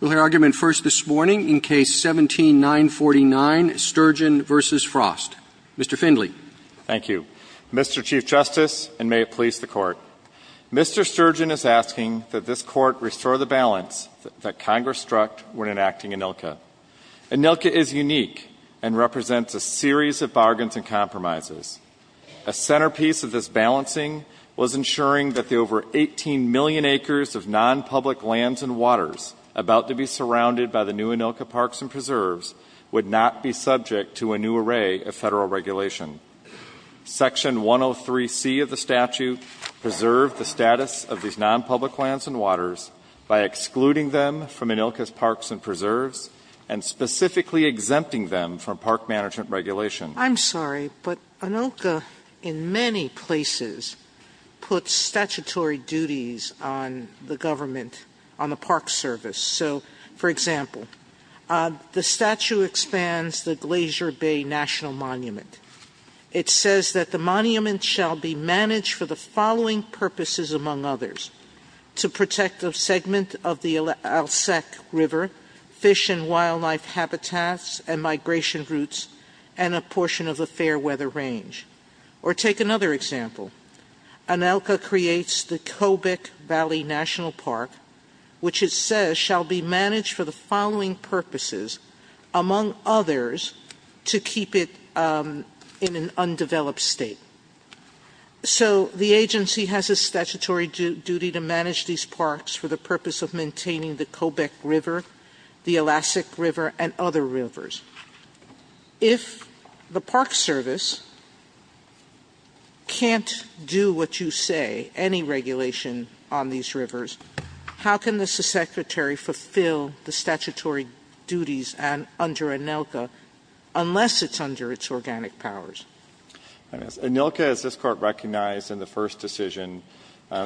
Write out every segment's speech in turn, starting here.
We'll hear argument first this morning in Case 17-949, Sturgeon v. Frost. Mr. Findley. Thank you. Mr. Chief Justice, and may it please the Court, Mr. Sturgeon is asking that this Court restore the balance that Congress struck when enacting ANILCA. ANILCA is unique and represents a series of bargains and compromises. A centerpiece of this balancing was ensuring that the over 18 million acres of non-public lands and waters about to be surrounded by the new ANILCA parks and preserves would not be subject to a new array of federal regulation. Section 103C of the statute preserved the status of these non-public lands and waters by excluding them from ANILCA's parks and preserves and specifically exempting them from park management regulation. I'm sorry, but ANILCA in many places puts statutory duties on the government, on the park service. So, for example, the statute expands the Glacier Bay National Monument. It says that the monument shall be managed for the following purposes, among others, to protect a segment of the Alsek River, fish and wildlife habitats, and migration routes, and a portion of the fair weather range. Or take another example. ANILCA creates the Kobik Valley National Park, which it says shall be managed for the following purposes, among others, to keep it in an undeveloped state. So the agency has a statutory duty to manage these parks for the purpose of maintaining the Kobik River, the Alsek River, and other rivers. If the park service can't do what you say, any regulation on these rivers, how can the secretary fulfill the statutory duties under ANILCA, unless it's under its organic powers? Anilca, as this Court recognized in the first decision,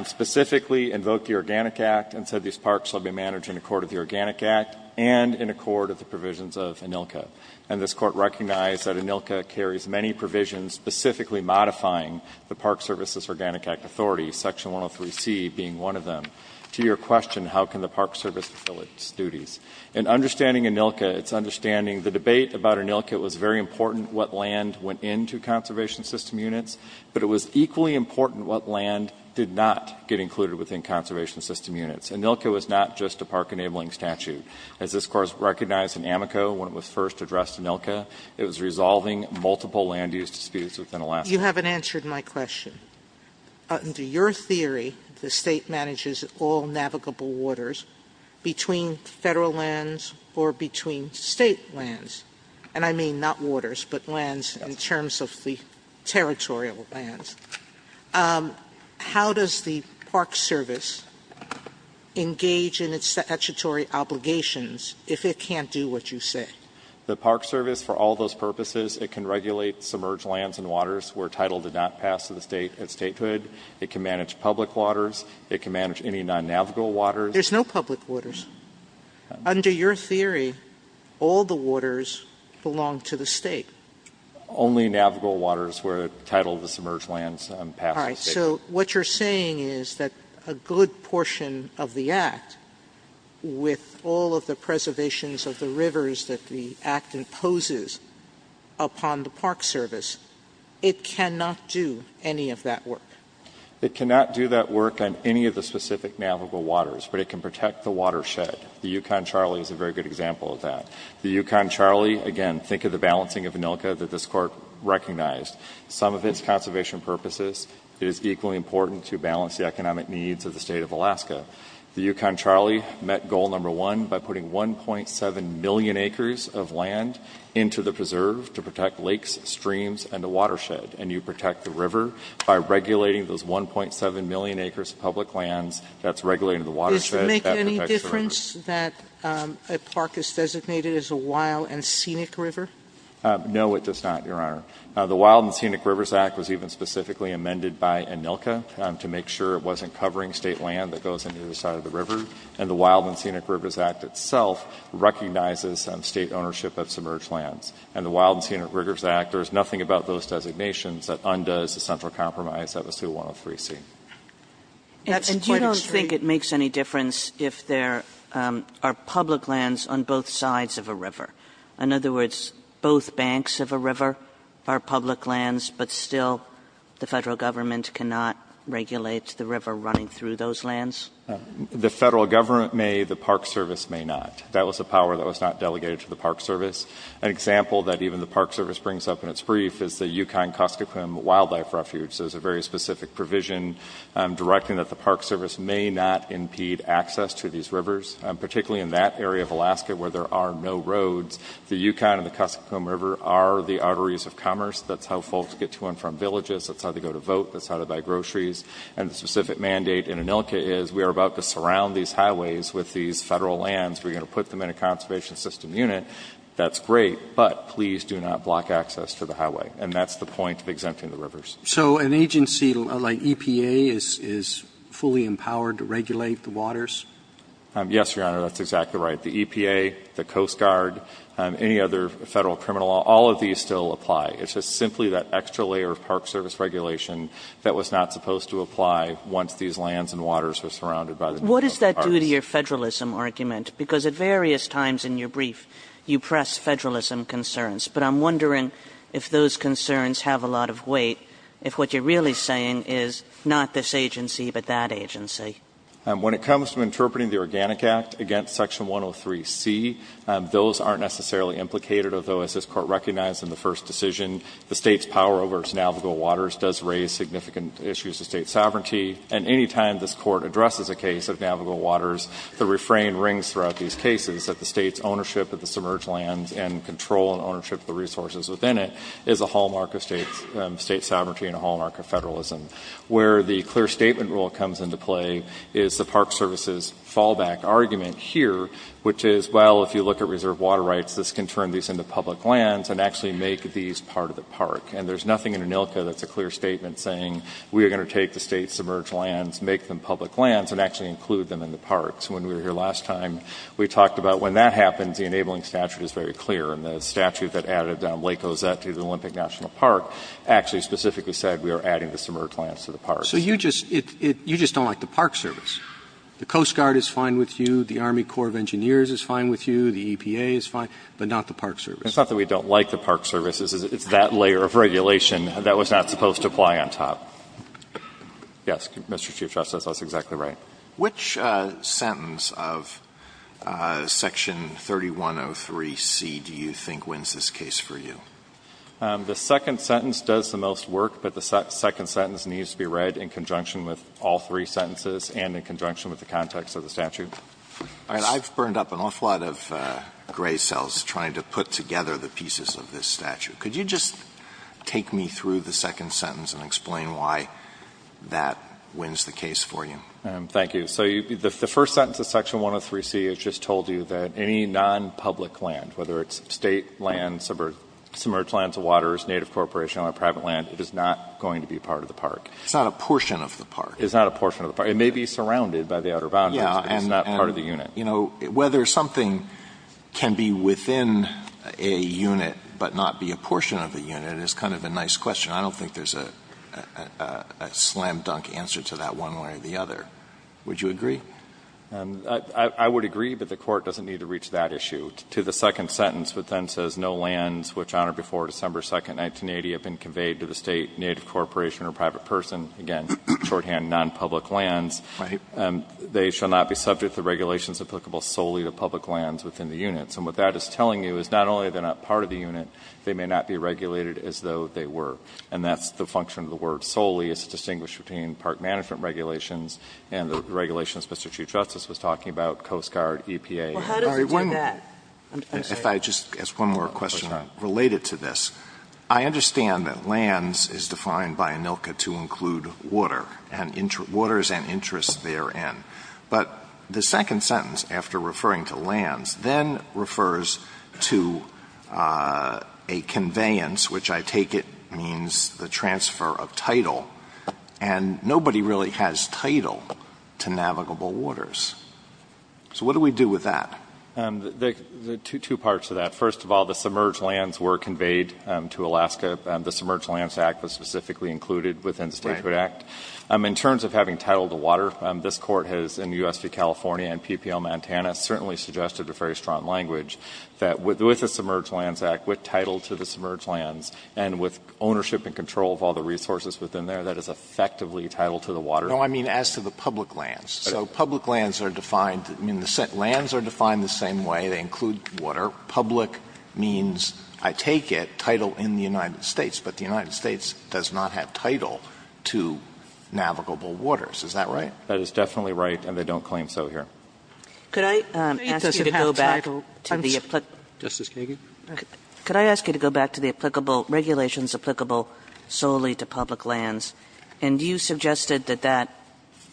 specifically invoked the Organic Act and said these parks shall be managed in accord with the Organic Act and in accord with the provisions of ANILCA. And this Court recognized that ANILCA carries many provisions specifically modifying the Park Services Organic Act authority, Section 103C being one of them. To your question, how can the park service fulfill its duties? In understanding ANILCA, it's understanding the debate about ANILCA. It was very important what land went into conservation system units, but it was equally important what land did not get included within conservation system units. ANILCA was not just a park enabling statute. As this Court recognized in AMICO when it was first addressed to ANILCA, it was resolving multiple land use disputes within Alaska. You haven't answered my question. Under your theory, the State manages all navigable waters between Federal lands or between State lands. And I mean not waters, but lands in terms of the territorial lands. How does the Park Service engage in its statutory obligations if it can't do what you say? The Park Service, for all those purposes, it can regulate submerged lands and waters where title did not pass to the State at Statehood. It can manage public waters. It can manage any non-navigable waters. There's no public waters. Under your theory, all the waters belong to the State. Only navigable waters where title of the submerged lands pass the State. All right. So what you're saying is that a good portion of the Act, with all of the preservations of the rivers that the Act imposes upon the Park Service, it cannot do any of that work. It cannot do that work on any of the specific navigable waters, but it can protect the watershed. The Yukon-Charlie is a very good example of that. The Yukon-Charlie, again, think of the balancing of ANILCA that this Court recognized. Some of its conservation purposes, it is equally important to balance the economic needs of the State of Alaska. The Yukon-Charlie met goal number one by putting 1.7 million acres of land into the preserve to protect lakes, streams, and the watershed. And you protect the river by regulating those 1.7 million acres of public lands. That's regulating the watershed that protects the river. Does it make any difference that a park is designated as a wild and scenic river? No, it does not, Your Honor. The Wild and Scenic Rivers Act was even specifically amended by ANILCA to make sure it wasn't covering State land that goes into the side of the river. And the Wild and Scenic Rivers Act itself recognizes State ownership of submerged lands. And the Wild and Scenic Rivers Act, there is nothing about those designations that undoes the central compromise that was through 103C. That's quite extreme. Kagan. And do you don't think it makes any difference if there are public lands on both sides of a river? In other words, both banks of a river are public lands, but still the Federal Government cannot regulate the river running through those lands? The Federal Government may, the Park Service may not. That was a power that was not delegated to the Park Service. An example that even the Park Service brings up in its brief is the Yukon-Cuscoquam Wildlife Refuge. There's a very specific provision directing that the Park Service may not impede access to these rivers, particularly in that area of Alaska where there are no roads. The Yukon and the Cuscoquam River are the arteries of commerce. That's how folks get to and from villages. That's how they go to vote. That's how they buy groceries. And the specific mandate in ANILCA is we are about to surround these highways with these Federal lands. We're going to put them in a conservation system unit. That's great, but please do not block access to the highway. And that's the point of exempting the rivers. So an agency like EPA is fully empowered to regulate the waters? Yes, Your Honor, that's exactly right. The EPA, the Coast Guard, any other Federal criminal law, all of these still apply. It's just simply that extra layer of Park Service regulation that was not supposed to apply once these lands and waters were surrounded by the Yukon. What does that do to your Federalism argument? Because at various times in your brief, you press Federalism concerns. But I'm wondering if those concerns have a lot of weight, if what you're really saying is not this agency, but that agency. When it comes to interpreting the Organic Act against Section 103C, those aren't necessarily implicated, although as this Court recognized in the first decision, the State's power over its navigable waters does raise significant issues of State sovereignty. And any time this Court addresses a case of navigable waters, the refrain rings throughout these cases that the State's ownership of the submerged lands and control and ownership of the resources within it is a hallmark of State sovereignty and a hallmark of Federalism. Where the clear statement rule comes into play is the Park Service's fallback argument here, which is, well, if you look at reserve water rights, this can turn these into public lands and actually make these part of the park. And there's nothing in ANILCA that's a clear statement saying we are going to take the State's submerged lands, make them public lands, and actually include them in the parks. When we were here last time, we talked about when that happens, the enabling statute is very clear. And the statute that added Lake Ozette to the Olympic National Park actually specifically said we are adding the submerged lands to the parks. So you just don't like the Park Service. The Coast Guard is fine with you. The Army Corps of Engineers is fine with you. The EPA is fine. But not the Park Service. It's not that we don't like the Park Service. It's that layer of regulation that was not supposed to fly on top. Yes, Mr. Chief Justice. That's exactly right. Which sentence of Section 3103C do you think wins this case for you? The second sentence does the most work. But the second sentence needs to be read in conjunction with all three sentences and in conjunction with the context of the statute. All right. I've burned up an awful lot of gray cells trying to put together the pieces of this statute. Could you just take me through the second sentence and explain why that wins the case for you? Thank you. So the first sentence of Section 103C has just told you that any nonpublic land, whether it's State land, submerged lands or waters, native corporation or private land, it is not going to be part of the park. It's not a portion of the park. It's not a portion of the park. It may be surrounded by the outer boundaries, but it's not part of the unit. You know, whether something can be within a unit but not be a portion of the unit is kind of a nice question. I don't think there's a slam-dunk answer to that one way or the other. Would you agree? I would agree, but the Court doesn't need to reach that issue. To the second sentence, which then says, No lands which on or before December 2, 1980, have been conveyed to the State, native corporation or private person, again, shorthand, nonpublic lands. Right. They shall not be subject to regulations applicable solely to public lands within the units. And what that is telling you is not only are they not part of the unit, they may not be regulated as though they were. And that's the function of the word solely. It's distinguished between park management regulations and the regulations Mr. Chief Justice was talking about, Coast Guard, EPA. Well, how does it do that? If I just ask one more question related to this. I understand that lands is defined by ANILCA to include water and waters and interests therein. But the second sentence, after referring to lands, then refers to a conveyance, which I take it means the transfer of title. And nobody really has title to navigable waters. So what do we do with that? There are two parts to that. First of all, the submerged lands were conveyed to Alaska. The Submerged Lands Act was specifically included within the Statehood Act. Right. In terms of having title to water, this Court has in U.S. v. California and PPL Montana certainly suggested a very strong language that with the Submerged Lands Act, with title to the submerged lands and with ownership and control of all the resources within there, that is effectively title to the water. No, I mean as to the public lands. So public lands are defined the same way. They include water. Public means, I take it, title in the United States. But the United States does not have title to navigable waters. Is that right? That is definitely right, and they don't claim so here. Could I ask you to go back to the applicable? Justice Kagan. Could I ask you to go back to the applicable, regulations applicable solely to public lands, and you suggested that that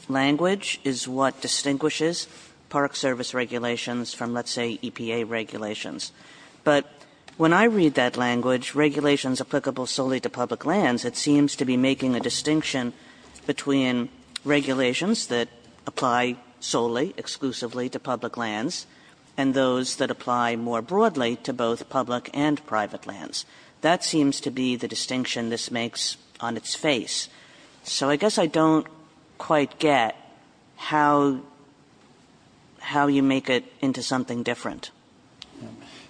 language is what distinguishes Park Service regulations from, let's say, EPA regulations. But when I read that language, regulations applicable solely to public lands, it seems to be making a distinction between regulations that apply solely, exclusively to public lands, and those that apply more broadly to both public and private lands. That seems to be the distinction this makes on its face. So I guess I don't quite get how you make it into something different.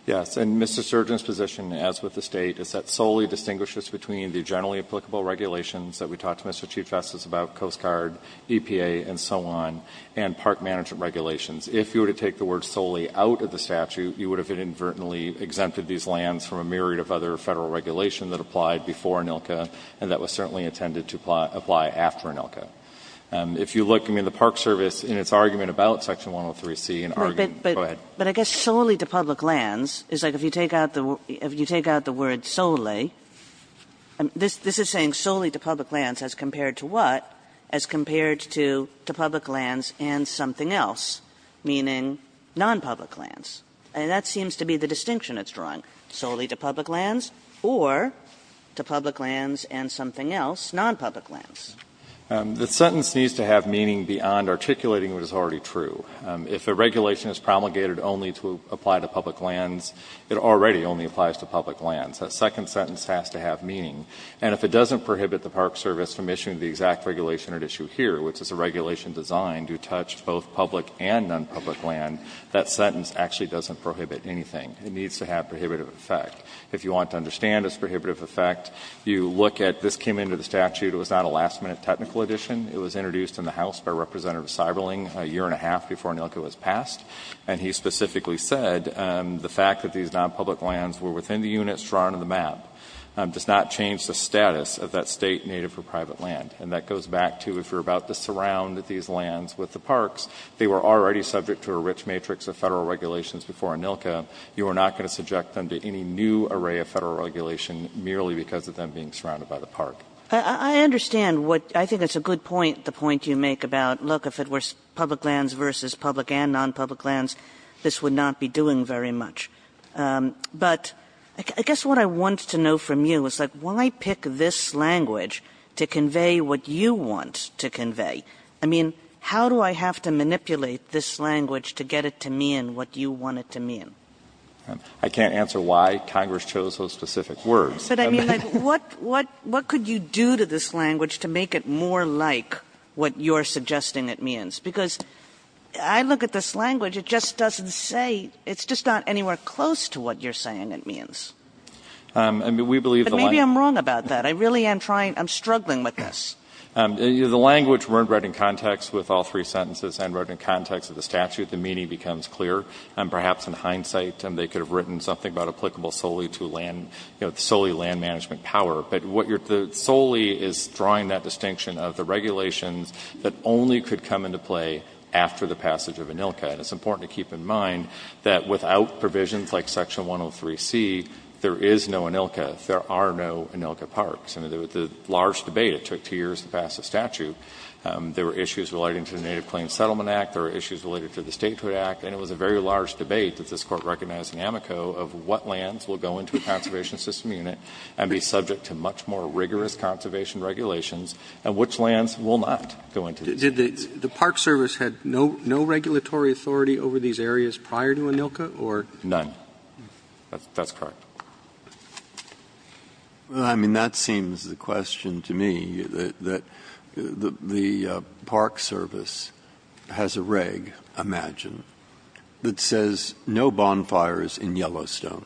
Yes, and Mr. Surgeon's position, as with the State, is that solely distinguishes between the generally applicable regulations that we talked to Mr. Chief Justice about, Coast Guard, EPA, and so on, and park management regulations. If you were to take the word solely out of the statute, you would have inadvertently exempted these lands from a myriad of other federal regulations that applied before ANILCA, and that was certainly intended to apply after ANILCA. If you look, I mean, the Park Service, in its argument about section 103C, in argument go ahead. But I guess solely to public lands is like if you take out the word solely, this is saying solely to public lands as compared to what? As compared to public lands and something else, meaning nonpublic lands. And that seems to be the distinction it's drawing. Solely to public lands or to public lands and something else, nonpublic lands. The sentence needs to have meaning beyond articulating what is already true. If a regulation is promulgated only to apply to public lands, it already only applies to public lands. That second sentence has to have meaning. And if it doesn't prohibit the Park Service from issuing the exact regulation at issue here, which is a regulation designed to touch both public and nonpublic land, that sentence actually doesn't prohibit anything. It needs to have prohibitive effect. If you want to understand its prohibitive effect, you look at this came into the statute. It was not a last-minute technical addition. It was introduced in the House by Representative Seiberling a year and a half before ANILCA was passed. And he specifically said the fact that these nonpublic lands were within the units drawn on the map does not change the status of that State Native or private land. And that goes back to if you're about to surround these lands with the parks, they would already be subject to a rich matrix of Federal regulations before ANILCA. You are not going to subject them to any new array of Federal regulation merely because of them being surrounded by the park. Kagan. Kagan. Kagan. Kagan. Kagan. Kagan. Kagan. Kagan. Kagan. Kagan. Kagan. Kagan. I mean, how do I have to manipulate this language to get it to mean what you want it to mean? Kneedler. I can't answer why. Congress chose those specific words. Kagan. I mean, what could you do to this language to make it more like what you are suggesting it means because I look at this language. It just doesn't say. It is just not anywhere close to what you are saying it means. Kneedler. I am – I believe ‑‑ Kagan. But maybe I am wrong about that. I really am trying – I am struggling with this. You know, the language weren't read in context with all three sentences and read in context of the statute. The meaning becomes clear. And perhaps in hindsight, they could have written something about applicable solely to land, you know, solely land management power. But what you are – solely is drawing that distinction of the regulations that only could come into play after the passage of ANILCA. And it is important to keep in mind that without provisions like Section 103C, there is no ANILCA. There are no ANILCA parks. And there was a large debate. It took two years to pass the statute. There were issues relating to the Native Claims Settlement Act. There were issues related to the Statehood Act. And it was a very large debate that this Court recognized in Amico of what lands will go into a conservation system unit and be subject to much more rigorous conservation regulations and which lands will not go into these. Did the park service have no regulatory authority over these areas prior to ANILCA? None. That is correct. Well, I mean, that seems the question to me, that the park service has a reg, imagine, that says no bonfires in Yellowstone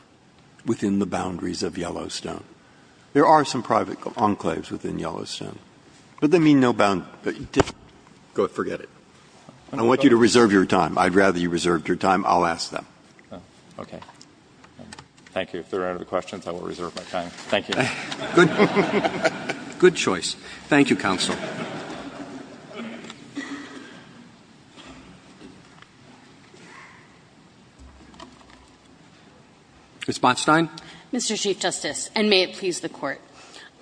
within the boundaries of Yellowstone. There are some private enclaves within Yellowstone. But they mean no – forget it. I want you to reserve your time. I would rather you reserved your time. I will ask them. Okay. Thank you. If there are no other questions, I will reserve my time. Thank you. Good choice. Thank you, Counsel. Ms. Botstein. Mr. Chief Justice, and may it please the Court.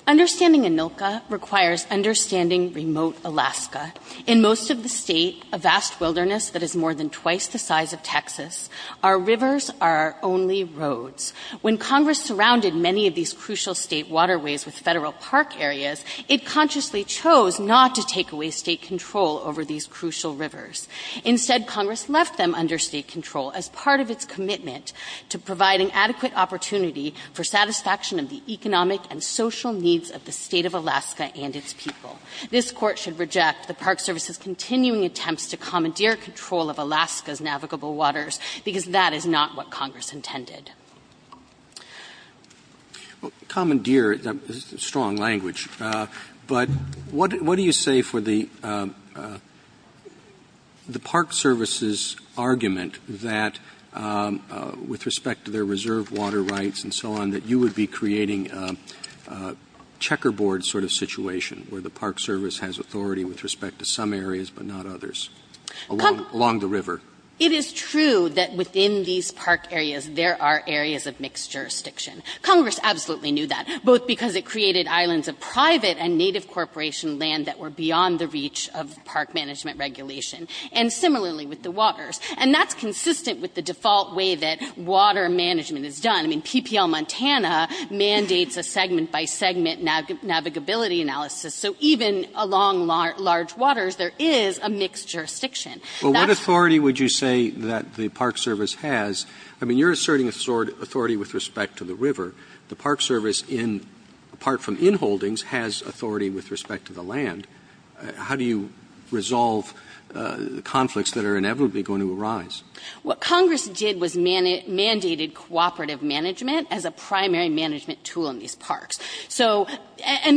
Understanding ANILCA requires understanding remote Alaska. In most of the State, a vast wilderness that is more than twice the size of Texas, our rivers are our only roads. When Congress surrounded many of these crucial State waterways with Federal park areas, it consciously chose not to take away State control over these crucial rivers. Instead, Congress left them under State control as part of its commitment to providing adequate opportunity for satisfaction of the economic and social needs of the State of Alaska and its people. This Court should reject the park service's continuing attempts to commandeer control of Alaska's navigable waters, because that is not what Congress intended. Well, commandeer is a strong language. But what do you say for the park service's argument that with respect to their reserve water rights and so on, that you would be creating a checkerboard sort of situation where the park service has authority with respect to some areas but not others along the river? It is true that within these park areas, there are areas of mixed jurisdiction. Congress absolutely knew that, both because it created islands of private and native corporation land that were beyond the reach of park management regulation, and similarly with the waters. And that's consistent with the default way that water management is done. I mean, PPL Montana mandates a segment-by-segment navigability analysis. So even along large waters, there is a mixed jurisdiction. Well, what authority would you say that the park service has? I mean, you're asserting authority with respect to the river. The park service, apart from inholdings, has authority with respect to the land. How do you resolve the conflicts that are inevitably going to arise? What Congress did was mandated cooperative management as a primary management tool in these parks. In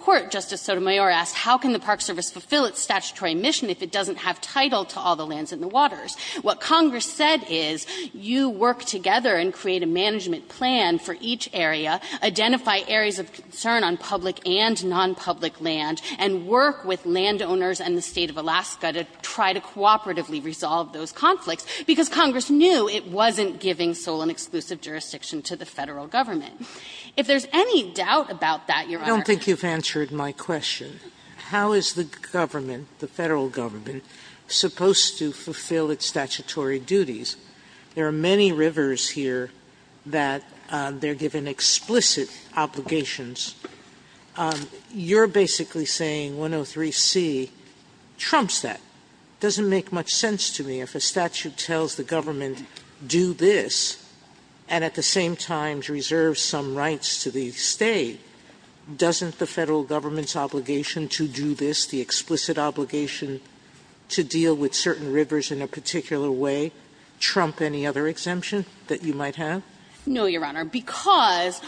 part, Justice Sotomayor asked, how can the park service fulfill its statutory mission if it doesn't have title to all the lands and the waters? What Congress said is, you work together and create a management plan for each area, identify areas of concern on public and nonpublic land, and work with landowners and the State of Alaska to try to cooperatively resolve those conflicts, because Congress knew it wasn't giving sole and exclusive jurisdiction to the Federal Government. If there's any doubt about that, Your Honor ---- I think you've answered my question. How is the government, the Federal Government, supposed to fulfill its statutory duties? There are many rivers here that they're given explicit obligations. You're basically saying 103C trumps that. It doesn't make much sense to me if a statute tells the government, do this, and at the same time reserve some rights to the State. Doesn't the Federal Government's obligation to do this, the explicit obligation to deal with certain rivers in a particular way, trump any other exemption that you might have? No, Your Honor, because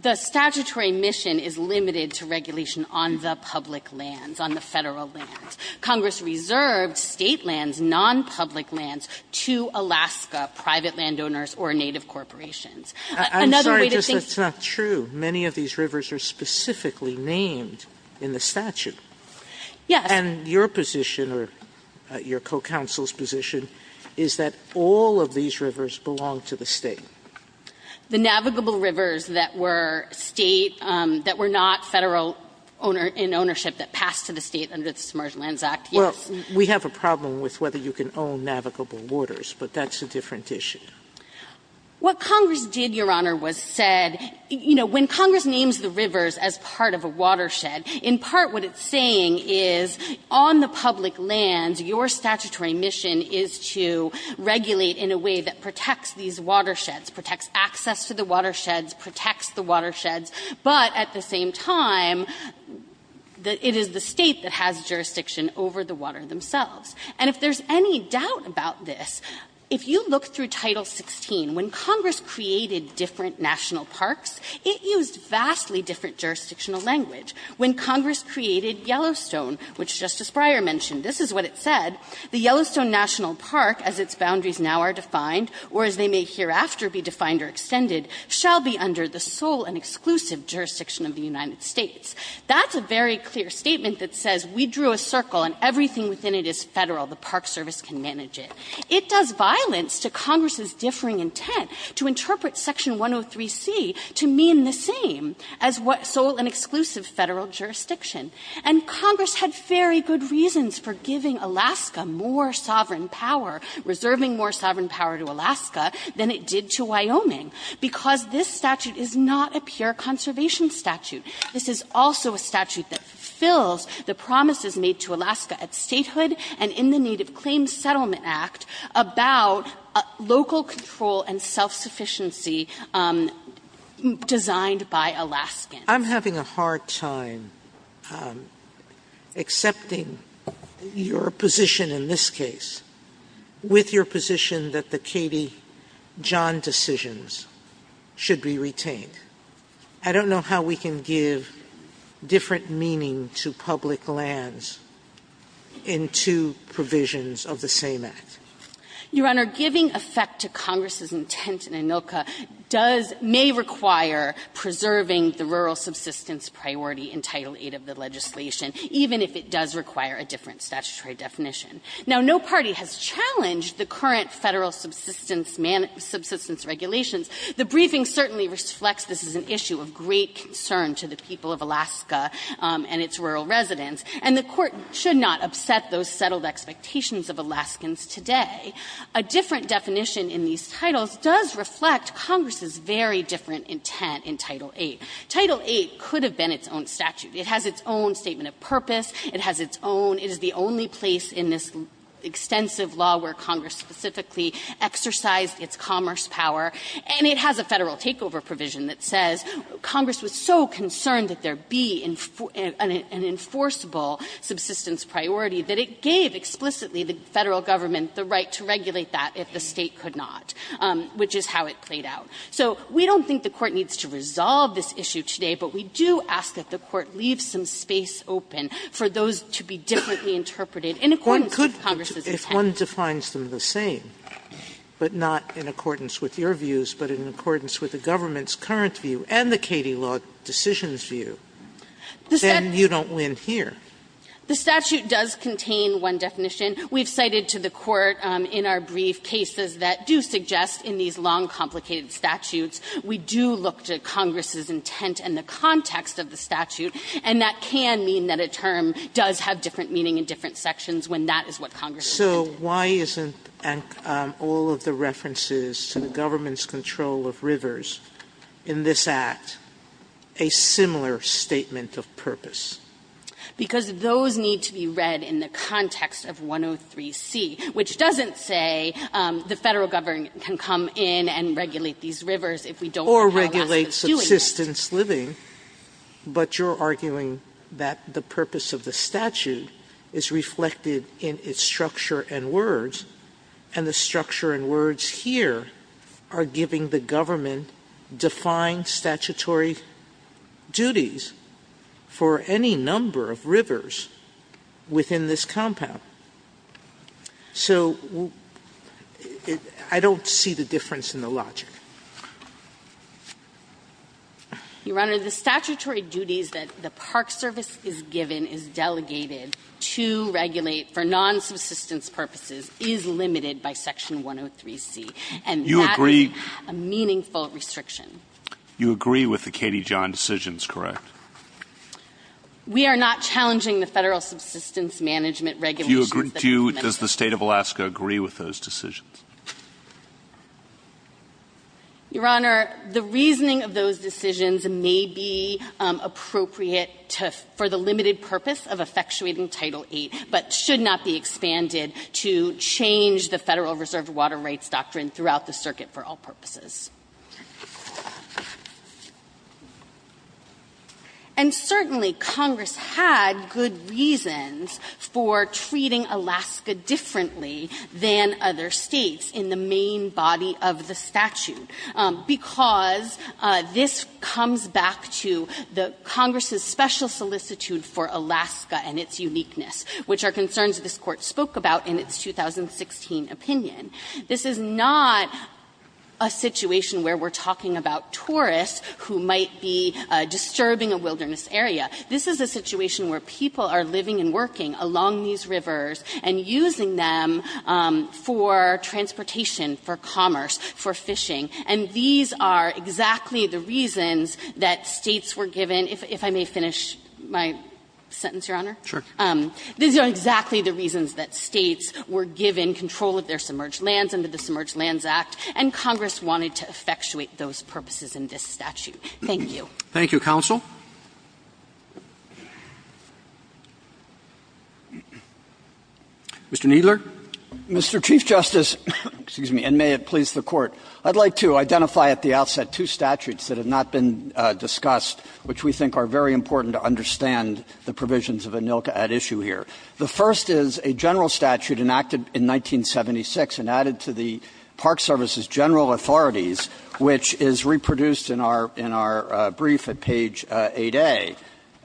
the statutory mission is limited to regulation on the public lands, on the Federal lands. Congress reserved State lands, nonpublic lands, to Alaska private landowners or native corporations. Another way to think ---- I'm sorry, just that's not true. Many of these rivers are specifically named in the statute. Yes. And your position or your co-counsel's position is that all of these rivers belong to the State. The navigable rivers that were State, that were not Federal in ownership that passed to the State under the Submerged Lands Act, yes. Well, we have a problem with whether you can own navigable waters, but that's a different issue. What Congress did, Your Honor, was said ---- you know, when Congress names the rivers as part of a watershed, in part what it's saying is on the public lands, your statutory mission is to regulate in a way that protects these watersheds, protects access to the watersheds, protects the watersheds, but at the same time, it is the State that has jurisdiction over the water themselves. And if there's any doubt about this, if you look through Title 16, when Congress created different national parks, it used vastly different jurisdictional language. When Congress created Yellowstone, which Justice Breyer mentioned, this is what it said, "...the Yellowstone National Park, as its boundaries now are defined, or as they may hereafter be defined or extended, shall be under the sole and exclusive jurisdiction of the United States." That's a very clear statement that says we drew a circle and everything within it is Federal. The Park Service can manage it. It does violence to Congress's differing intent to interpret Section 103C to mean the same as what sole and exclusive Federal jurisdiction. And Congress had very good reasons for giving Alaska more sovereign power, reserving more sovereign power to Alaska than it did to Wyoming, because this statute is not a pure conservation statute. This is also a statute that fulfills the promises made to Alaska at statehood and in the Native Claims Settlement Act about local control and self-sufficiency designed by Alaskans. Sotomayor, I'm having a hard time accepting your position in this case with your position that I don't know how we can give different meaning to public lands in two provisions of the same act. Your Honor, giving effect to Congress's intent in ANILCA does may require preserving the rural subsistence priority in Title VIII of the legislation, even if it does require a different statutory definition. Now, no party has challenged the current Federal subsistence regulations. The briefing certainly reflects this is an issue of great concern to the people of Alaska and its rural residents, and the Court should not upset those settled expectations of Alaskans today. A different definition in these titles does reflect Congress's very different intent in Title VIII. Title VIII could have been its own statute. It has its own statement of purpose. It has its own – it is the only place in this extensive law where Congress specifically exercised its commerce power, and it has a Federal takeover provision that says Congress was so concerned that there be an enforceable subsistence priority that it gave explicitly the Federal Government the right to regulate that if the State could not, which is how it played out. So we don't think the Court needs to resolve this issue today, but we do ask that the Court leave some space open for those to be differently interpreted in accordance with Congress's intent. Sotomayor, if one defines them the same, but not in accordance with your views, but in accordance with the government's current view and the Katie law decision's view, then you don't win here. The statute does contain one definition. We have cited to the Court in our brief cases that do suggest in these long, complicated statutes we do look to Congress's intent and the context of the statute, and that can mean that a term does have different meaning in different sections when that is what Congress intended. Sotomayor, so why isn't all of the references to the government's control of rivers in this Act a similar statement of purpose? Because those need to be read in the context of 103C, which doesn't say the Federal Government can come in and regulate these rivers if we don't know how else to do it. Or regulate subsistence living, but you're arguing that the purpose of the statute is reflected in its structure and words, and the structure and words here are giving the government defined statutory duties for any number of rivers within this compound. So I don't see the difference in the logic. Your Honor, the statutory duties that the Park Service is given is delegated to the State to regulate for non-subsistence purposes is limited by Section 103C, and that is a meaningful restriction. You agree with the Katie John decisions, correct? We are not challenging the Federal subsistence management regulations that are implemented by the State. Do you – does the State of Alaska agree with those decisions? Your Honor, the reasoning of those decisions may be appropriate to – for the limited purpose of effectuating Title VIII, but should not be expanded to change the Federal Reserve Water Rights Doctrine throughout the circuit for all purposes. And certainly, Congress had good reasons for treating Alaska differently than other States in the main body of the statute, because this comes back to the Congress's special solicitude for Alaska and its uniqueness, which are concerns this Court spoke about in its 2016 opinion. This is not a situation where we're talking about tourists who might be disturbing a wilderness area. This is a situation where people are living and working along these rivers and using them for transportation, for commerce, for fishing, and these are exactly the reasons that States were given – if I may finish my sentence, Your Honor. Sure. These are exactly the reasons that States were given control of their submerged lands under the Submerged Lands Act, and Congress wanted to effectuate those purposes in this statute. Thank you. Thank you, counsel. Mr. Kneedler. Mr. Chief Justice, and may it please the Court, I'd like to identify at the outset two statutes that have not been discussed, which we think are very important to understand the provisions of ANILCA at issue here. The first is a general statute enacted in 1976 and added to the Park Service's General Authorities, which is reproduced in our – in our brief at page 8A,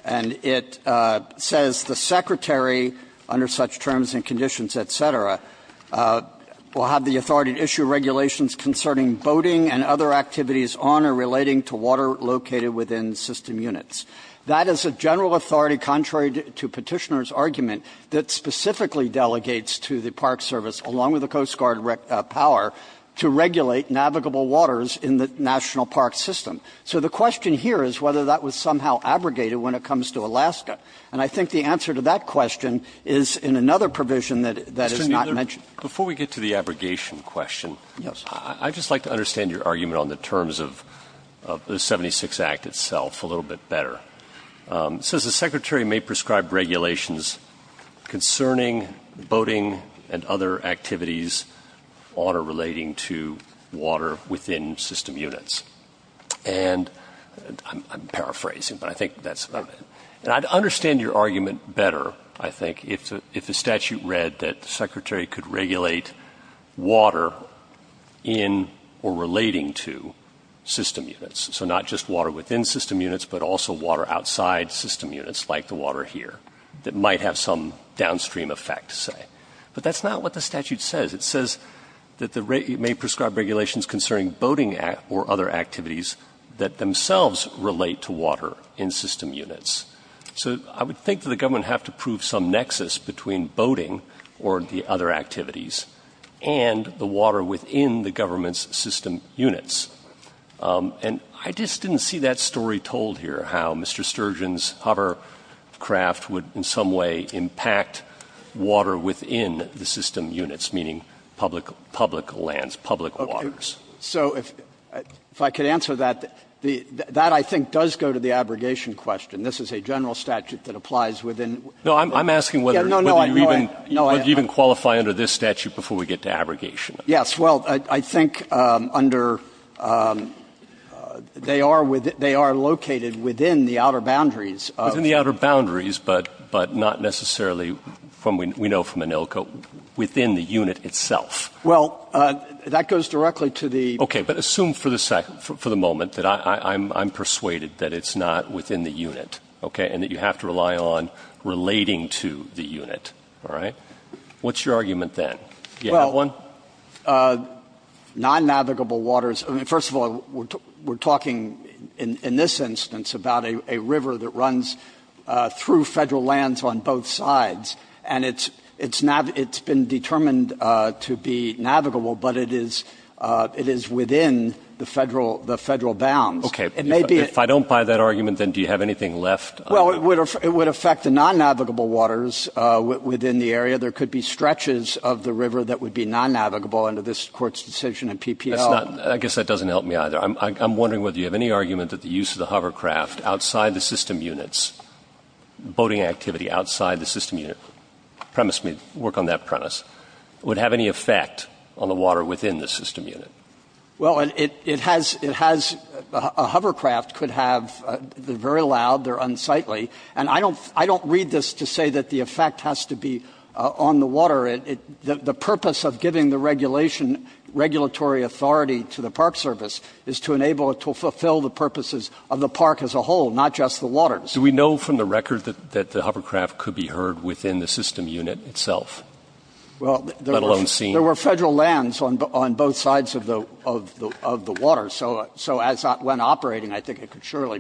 and it says the Secretary, under such terms and conditions, et cetera, will have the authority to issue regulations concerning boating and other activities on or relating to water located within system units. That is a general authority, contrary to Petitioner's argument, that specifically delegates to the Park Service, along with the Coast Guard power, to regulate navigable waters in the national park system. So the question here is whether that was somehow abrogated when it comes to Alaska, and I think the answer to that question is in another provision that is not mentioned. Before we get to the abrogation question, I'd just like to understand your argument on the terms of the 76 Act itself a little bit better. It says the Secretary may prescribe regulations concerning boating and other activities on or relating to water within system units. And I'm paraphrasing, but I think that's about it. And I'd understand your argument better, I think, if the statute read that the Secretary could regulate water in or relating to system units. So not just water within system units, but also water outside system units, like the water here, that might have some downstream effect, say. But that's not what the statute says. It says that the State may prescribe regulations concerning boating or other activities that themselves relate to water in system units. So I would think that the government would have to prove some nexus between boating or the other activities and the water within the government's system units. And I just didn't see that story told here, how Mr. Sturgeon's hovercraft would in some way impact water within the system units, meaning public lands, public waters. So if I could answer that, that I think does go to the abrogation question. This is a general statute that applies within the unit. No, I'm asking whether you even qualify under this statute before we get to abrogation. Yes. Well, I think under they are located within the outer boundaries of. Within the outer boundaries, but not necessarily, we know from Anilco, within the unit itself. Well, that goes directly to the. Okay, but assume for the moment that I'm persuaded that it's not within the unit. Okay. And that you have to rely on relating to the unit. All right. What's your argument then? Well, non-navigable waters. I mean, first of all, we're talking in this instance about a river that runs through Federal lands on both sides. And it's been determined to be navigable. But it is within the Federal bounds. Okay. If I don't buy that argument, then do you have anything left? Well, it would affect the non-navigable waters within the area. There could be stretches of the river that would be non-navigable under this Court's decision in PPL. I guess that doesn't help me either. I'm wondering whether you have any argument that the use of the hovercraft outside the system units, boating activity outside the system unit, premise me, work on that premise, would have any effect on the water within the system unit? Well, it has, a hovercraft could have, they're very loud, they're unsightly. And I don't read this to say that the effect has to be on the water. The purpose of giving the regulation, regulatory authority to the park service is to enable it to fulfill the purposes of the park as a whole, not just the water. Do we know from the record that the hovercraft could be heard within the system unit itself, let alone seen? Well, there were Federal lands on both sides of the water. So as when operating, I think it could surely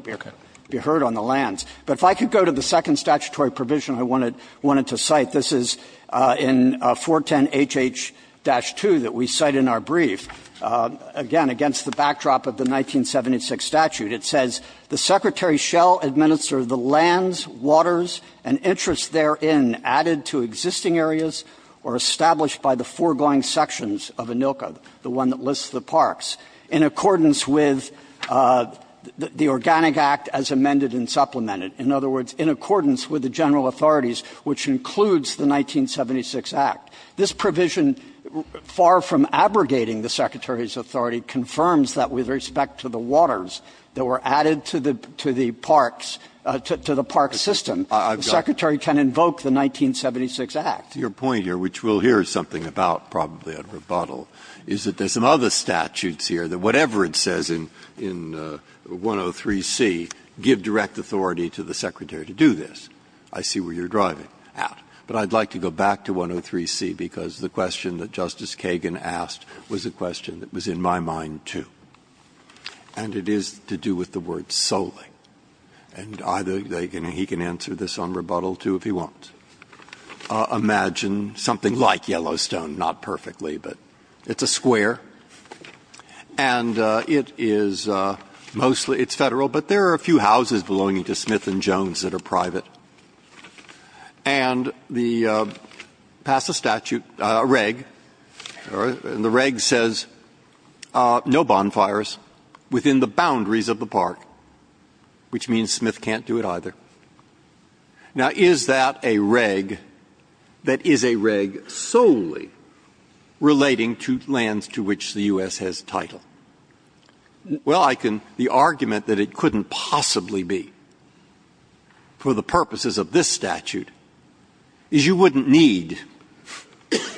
be heard on the lands. But if I could go to the second statutory provision I wanted to cite, this is in 410HH-2 that we cite in our brief, again, against the backdrop of the 1976 statute. It says, The Secretary shall administer the lands, waters, and interests therein added to existing areas or established by the foregoing sections of ANILCA, the one that lists the parks, in accordance with the Organic Act as amended and supplemented. In other words, in accordance with the General Authorities, which includes the 1976 Act. This provision, far from abrogating the Secretary's authority, confirms that with respect to the waters that were added to the parks, to the park system, the Secretary can invoke the 1976 Act. Breyer. Your point here, which we'll hear something about probably at rebuttal, is that there are some other statutes here that whatever it says in 103C, give direct authority to the Secretary to do this. I see where you're driving at. But I'd like to go back to 103C, because the question that Justice Kagan asked was a question that was in my mind, too. And it is to do with the word solely. And either they can or he can answer this on rebuttal, too, if he wants. Imagine something like Yellowstone, not perfectly, but it's a square. And it is mostly, it's Federal, but there are a few houses belonging to Smith & Jones that are private. And the pass of statute, reg, and the reg says no bonfires within the boundaries of the park, which means Smith can't do it either. Now, is that a reg that is a reg solely relating to lands to which the U.S. has title? Well, I can, the argument that it couldn't possibly be for the purposes of this statute is you wouldn't need,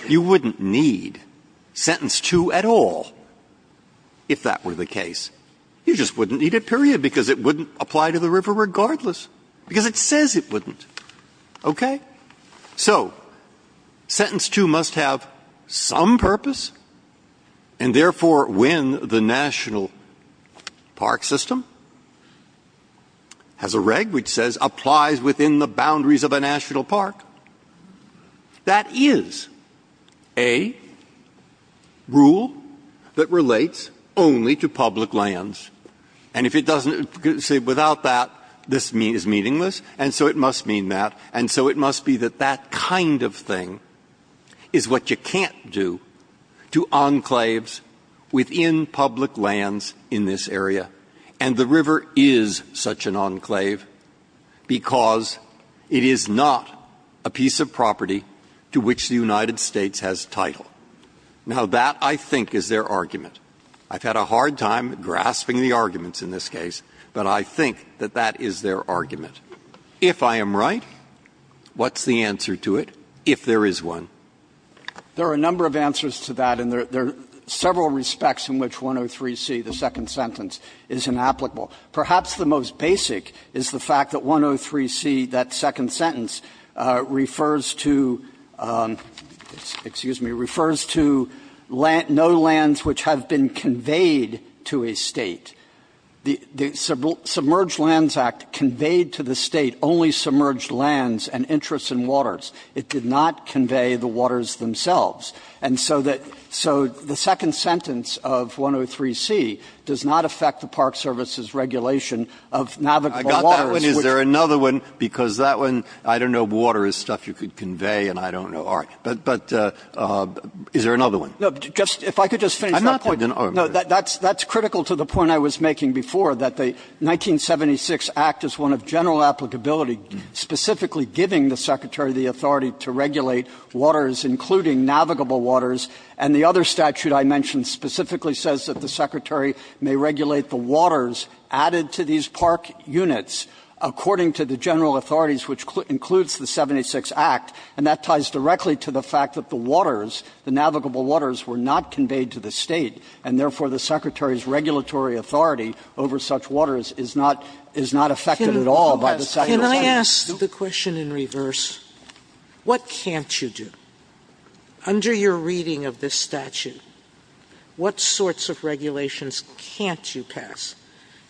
you wouldn't need sentence 2 at all, if that were the case. You just wouldn't need it, period, because it wouldn't apply to the river regardless. Because it says it wouldn't. Okay? So, sentence 2 must have some purpose. And therefore, when the national park system has a reg which says applies within the boundaries of a national park, that is a rule that relates only to public lands. And if it doesn't, say, without that, this is meaningless, and so it must mean that, and so it must be that that kind of thing is what you can't do to enclaves within public lands in this area. And the river is such an enclave because it is not a piece of property to which the United States has title. Now, that, I think, is their argument. I've had a hard time grasping the arguments in this case, but I think that that is their argument. If I am right, what's the answer to it, if there is one? There are a number of answers to that, and there are several respects in which 103C, the second sentence, is inapplicable. Perhaps the most basic is the fact that 103C, that second sentence, refers to no lands which have been conveyed to a State. The Submerged Lands Act conveyed to the State only submerged lands and interests in waters. It did not convey the waters themselves. And so that the second sentence of 103C does not affect the Park Service's regulation of navigable waters. Breyer. I got that one. Is there another one? Because that one, I don't know, water is stuff you could convey, and I don't know. All right. But is there another one? No. Just, if I could just finish that point. I'm not going to. No. That's critical to the point I was making before, that the 1976 Act is one of general applicability, specifically giving the Secretary the authority to regulate waters, including navigable waters. And the other statute I mentioned specifically says that the Secretary may regulate the waters added to these park units according to the general authorities, which includes the 76 Act. And that ties directly to the fact that the waters, the navigable waters, were not conveyed to the State, and therefore the Secretary's regulatory authority over such waters is not affected at all by the statute. Sotomayor, can I ask the question in reverse? What can't you do? Under your reading of this statute, what sorts of regulations can't you pass?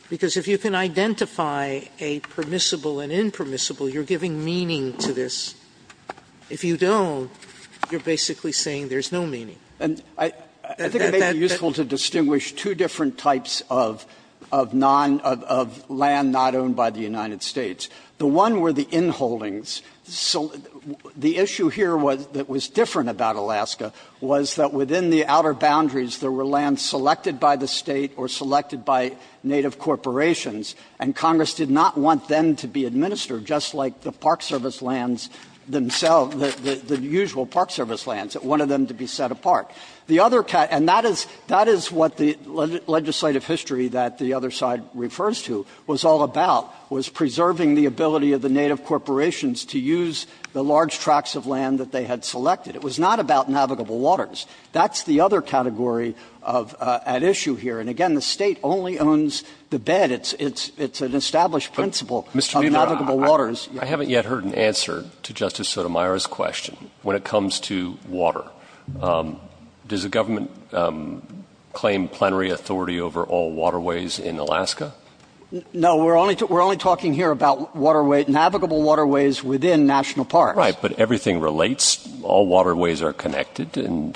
Because if you can identify a permissible and impermissible, you're giving meaning to this. If you don't, you're basically saying there's no meaning. And I think it may be useful to distinguish two different types of non of land not owned by the United States. The one were the inholdings. The issue here that was different about Alaska was that within the outer boundaries, there were lands selected by the State or selected by native corporations, and Congress did not want them to be administered, just like the park service lands, it wanted them to be set apart. And that is what the legislative history that the other side refers to was all about, was preserving the ability of the native corporations to use the large tracts of land that they had selected. It was not about navigable waters. That's the other category at issue here. And, again, the State only owns the bed. It's an established principle of navigable waters. I haven't yet heard an answer to Justice Sotomayor's question when it comes to water. Does the government claim plenary authority over all waterways in Alaska? No, we're only talking here about navigable waterways within national parks. Right, but everything relates. All waterways are connected. And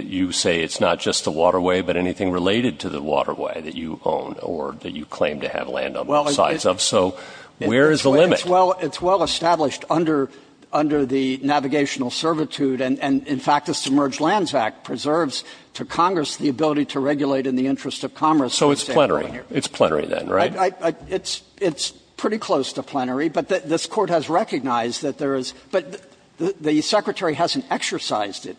you say it's not just the waterway but anything related to the waterway that you own or that you claim to have land on both sides of. So where is the limit? It's well established under the navigational servitude, and, in fact, the Submerged Lands Act preserves to Congress the ability to regulate in the interest of commerce. So it's plenary. It's plenary then, right? It's pretty close to plenary, but this Court has recognized that there is — but the Secretary hasn't exercised it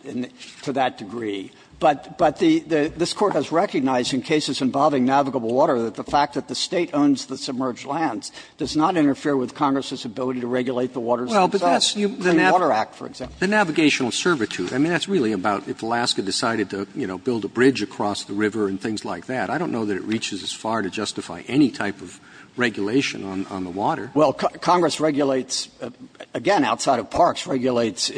to that degree. But this Court has recognized in cases involving navigable water that the fact that the State owns the submerged lands does not interfere with Congress's ability to regulate the waters themselves. The Water Act, for example. The navigational servitude. I mean, that's really about if Alaska decided to, you know, build a bridge across the river and things like that. I don't know that it reaches as far to justify any type of regulation on the water. Well, Congress regulates, again, outside of parks, regulates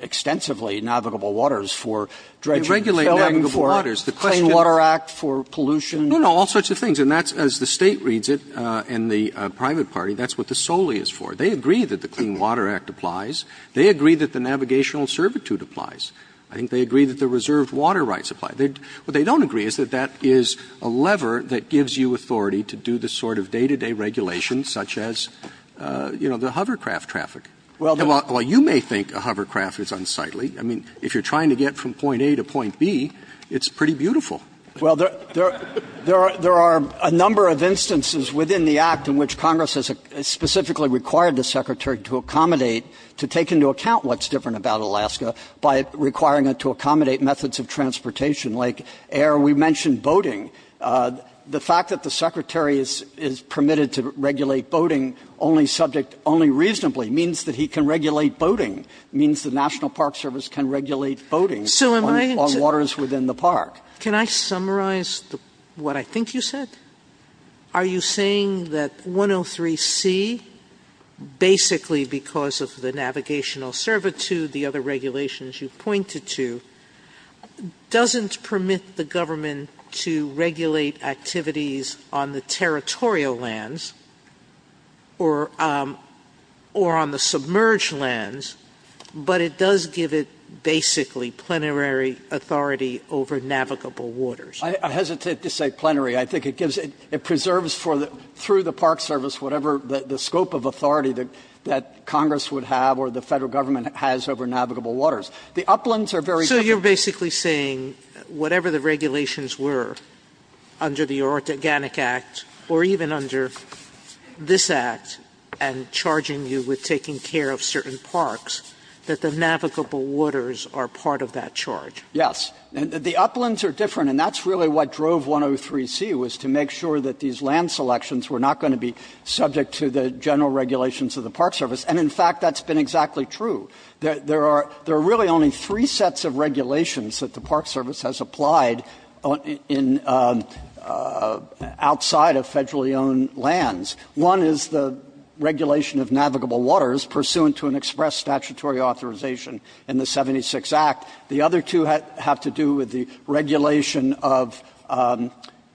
extensively navigable waters for dredging and filling, for Clean Water Act, for pollution. No, no, all sorts of things. And that's, as the State reads it, and the private party, that's what the Soli is for. They agree that the Clean Water Act applies. They agree that the navigational servitude applies. I think they agree that the reserved water rights apply. What they don't agree is that that is a lever that gives you authority to do the sort of day-to-day regulations such as, you know, the hovercraft traffic. Well, you may think a hovercraft is unsightly. I mean, if you're trying to get from point A to point B, it's pretty beautiful. Well, there are a number of instances within the act in which Congress has specifically required the Secretary to accommodate, to take into account what's different about Alaska by requiring it to accommodate methods of transportation, like air. We mentioned boating. The fact that the Secretary is permitted to regulate boating only subject, only reasonably, means that he can regulate boating, means the National Park Service can regulate boating on waters within the park. Sotomayor Can I summarize what I think you said? Are you saying that 103C, basically because of the navigational servitude, the other regulations you pointed to, doesn't permit the government to regulate activities on the territorial lands or on the submerged lands, but it does give it basically plenary authority over navigable waters? I hesitate to say plenary. I think it gives it, it preserves for the, through the Park Service, whatever the scope of authority that Congress would have or the Federal Government has over navigable waters. The uplands are very different. So you're basically saying whatever the regulations were under the Oregonic Act or even under this Act and charging you with taking care of certain parks, that the navigable waters are part of that charge? Yes. The uplands are different, and that's really what drove 103C, was to make sure that these land selections were not going to be subject to the general regulations of the Park Service. And, in fact, that's been exactly true. There are really only three sets of regulations that the Park Service has applied in, outside of federally owned lands. One is the regulation of navigable waters pursuant to an express statutory authorization in the 76 Act. The other two have to do with the regulation of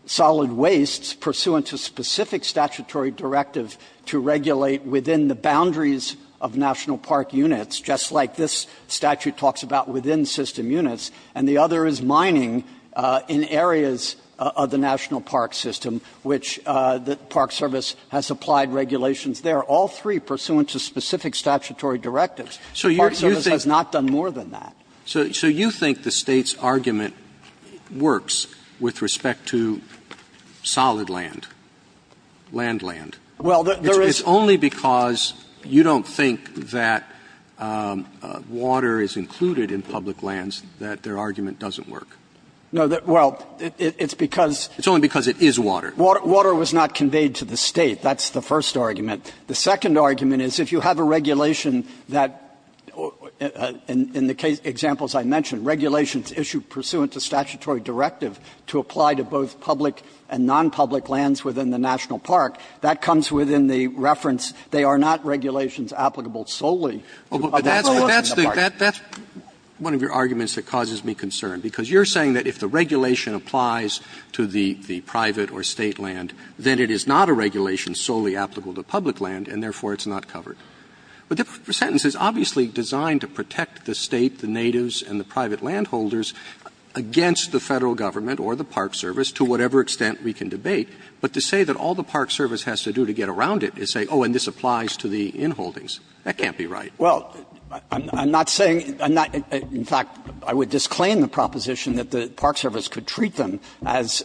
solid wastes pursuant to specific statutory directives to regulate within the boundaries of National Park units, just like this statute talks about within system units. And the other is mining in areas of the National Park System, which the Park Service has applied regulations there, all three pursuant to specific statutory directives. The Park Service has not done more than that. So you think the State's argument works with respect to solid land, land land? Well, there is. It's only because you don't think that water is included in public lands that their argument doesn't work. No, well, it's because. It's only because it is water. Water was not conveyed to the State. That's the first argument. The second argument is if you have a regulation that, in the examples I mentioned, regulations issued pursuant to statutory directive to apply to both public and nonpublic lands within the National Park, that comes within the reference, they are not regulations applicable solely to public lands in the Park. That's one of your arguments that causes me concern, because you're saying that if the regulation applies to the private or State land, then it is not a regulation solely applicable to public land, and therefore it's not covered. But the sentence is obviously designed to protect the State, the natives, and the private landholders against the Federal Government or the Park Service, to whatever extent we can debate. But to say that all the Park Service has to do to get around it is say, oh, and this applies to the inholdings, that can't be right. Well, I'm not saying – I'm not – in fact, I would disclaim the proposition that the Park Service could treat them as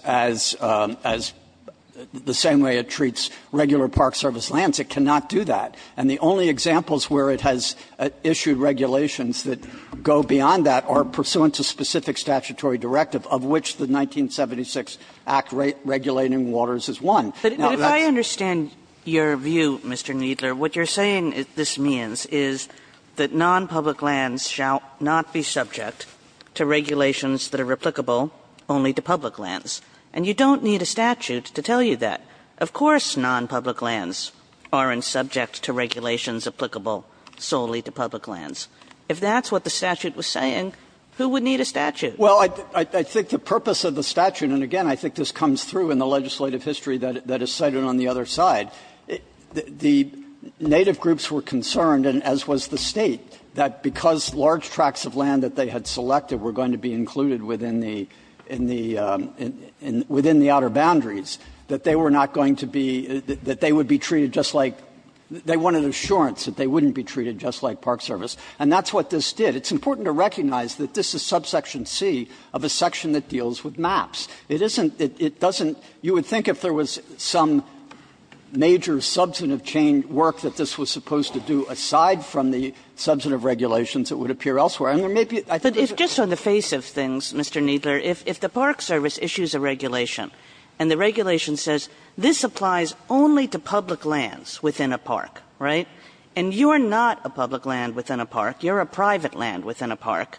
the same way it treats regular Park Service lands. It cannot do that. And the only examples where it has issued regulations that go beyond that are pursuant to specific statutory directive, of which the 1976 Act regulating waters is one. Kagan's argument is that non-public lands shall not be subject to regulations that are applicable only to public lands. And you don't need a statute to tell you that. Of course non-public lands aren't subject to regulations applicable solely to public lands. If that's what the statute was saying, who would need a statute? Well, I think the purpose of the statute, and again, I think this comes through in the legislative history that is cited on the other side, the native groups were concerned, as was the State, that because large tracts of land that they had selected were going to be included within the – in the – within the outer boundaries, that they were not going to be – that they would be treated just like – they wanted assurance that they wouldn't be treated just like Park Service. And that's what this did. It's important to recognize that this is subsection C of a section that deals with maps. It isn't – it doesn't – you would think if there was some major substantive change work that this was supposed to do, aside from the substantive regulations, it would appear elsewhere. And there may be – I think there's a – But if just on the face of things, Mr. Kneedler, if the Park Service issues a regulation and the regulation says this applies only to public lands within a park, right, and you're not a public land within a park, you're a private land within a park,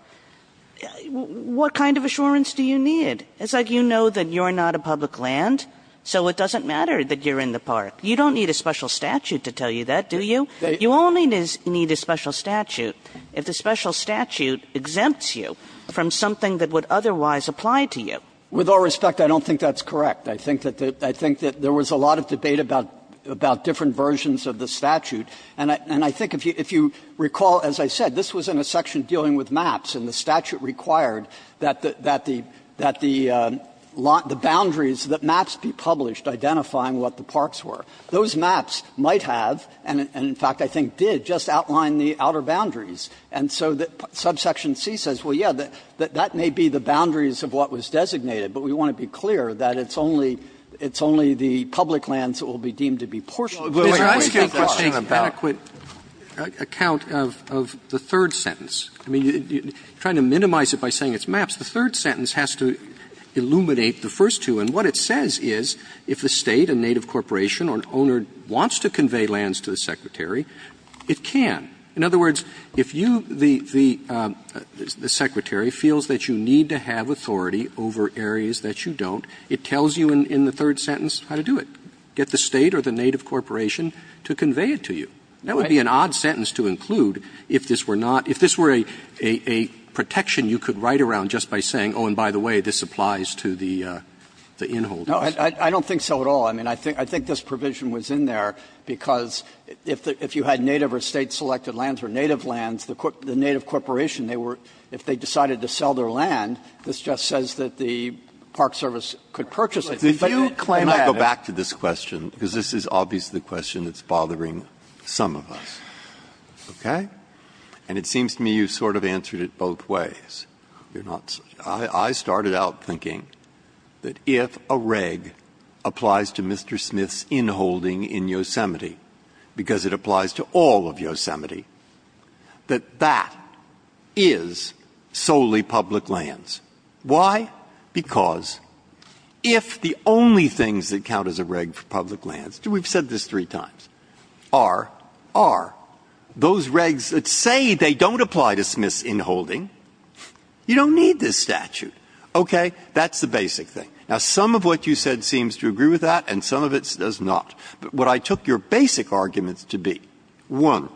what kind of assurance do you need? It's like you know that you're not a public land, so it doesn't matter that you're in the park. You don't need a special statute to tell you that, do you? You only need a special statute if the special statute exempts you from something that would otherwise apply to you. With all respect, I don't think that's correct. I think that the – I think that there was a lot of debate about – about different versions of the statute. And I – and I think if you – if you recall, as I said, this was in a section dealing with maps, and the statute required that the – that the – that the boundaries that maps be published identifying what the parks were. Those maps might have, and in fact I think did, just outline the outer boundaries. And so the subsection C says, well, yes, that – that may be the boundaries of what was designated, but we want to be clear that it's only – it's only the public lands that will be deemed to be portioned by the way that that's written about. Roberts, Jr. about the third sentence? I mean, you're trying to minimize it by saying it's maps. The third sentence has to illuminate the first two. And what it says is, if the State, a native corporation, or an owner wants to convey lands to the Secretary, it can. In other words, if you, the Secretary, feels that you need to have authority over areas that you don't, it tells you in the third sentence how to do it. Get the State or the native corporation to convey it to you. That would be an odd sentence to include if this were not – if this were a protection you could write around just by saying, oh, and by the way, this applies to the inholders. No, I don't think so at all. I mean, I think this provision was in there because if you had native or State-selected lands or native lands, the native corporation, they were – if they decided to sell their land, this just says that the Park Service could purchase it. But if you claim that it's – Let me go back to this question, because this is obviously the question that's bothering some of us, okay? And it seems to me you've sort of answered it both ways. You're not – I started out thinking that if a reg applies to Mr. Smith's inholding in Yosemite, because it applies to all of Yosemite, that that is solely public lands. Why? Because if the only things that count as a reg for public lands – we've said this three times – are, are. Those regs that say they don't apply to Smith's inholding, you don't need this statute. Okay? That's the basic thing. Now, some of what you said seems to agree with that, and some of it does not. But what I took your basic arguments to be, one,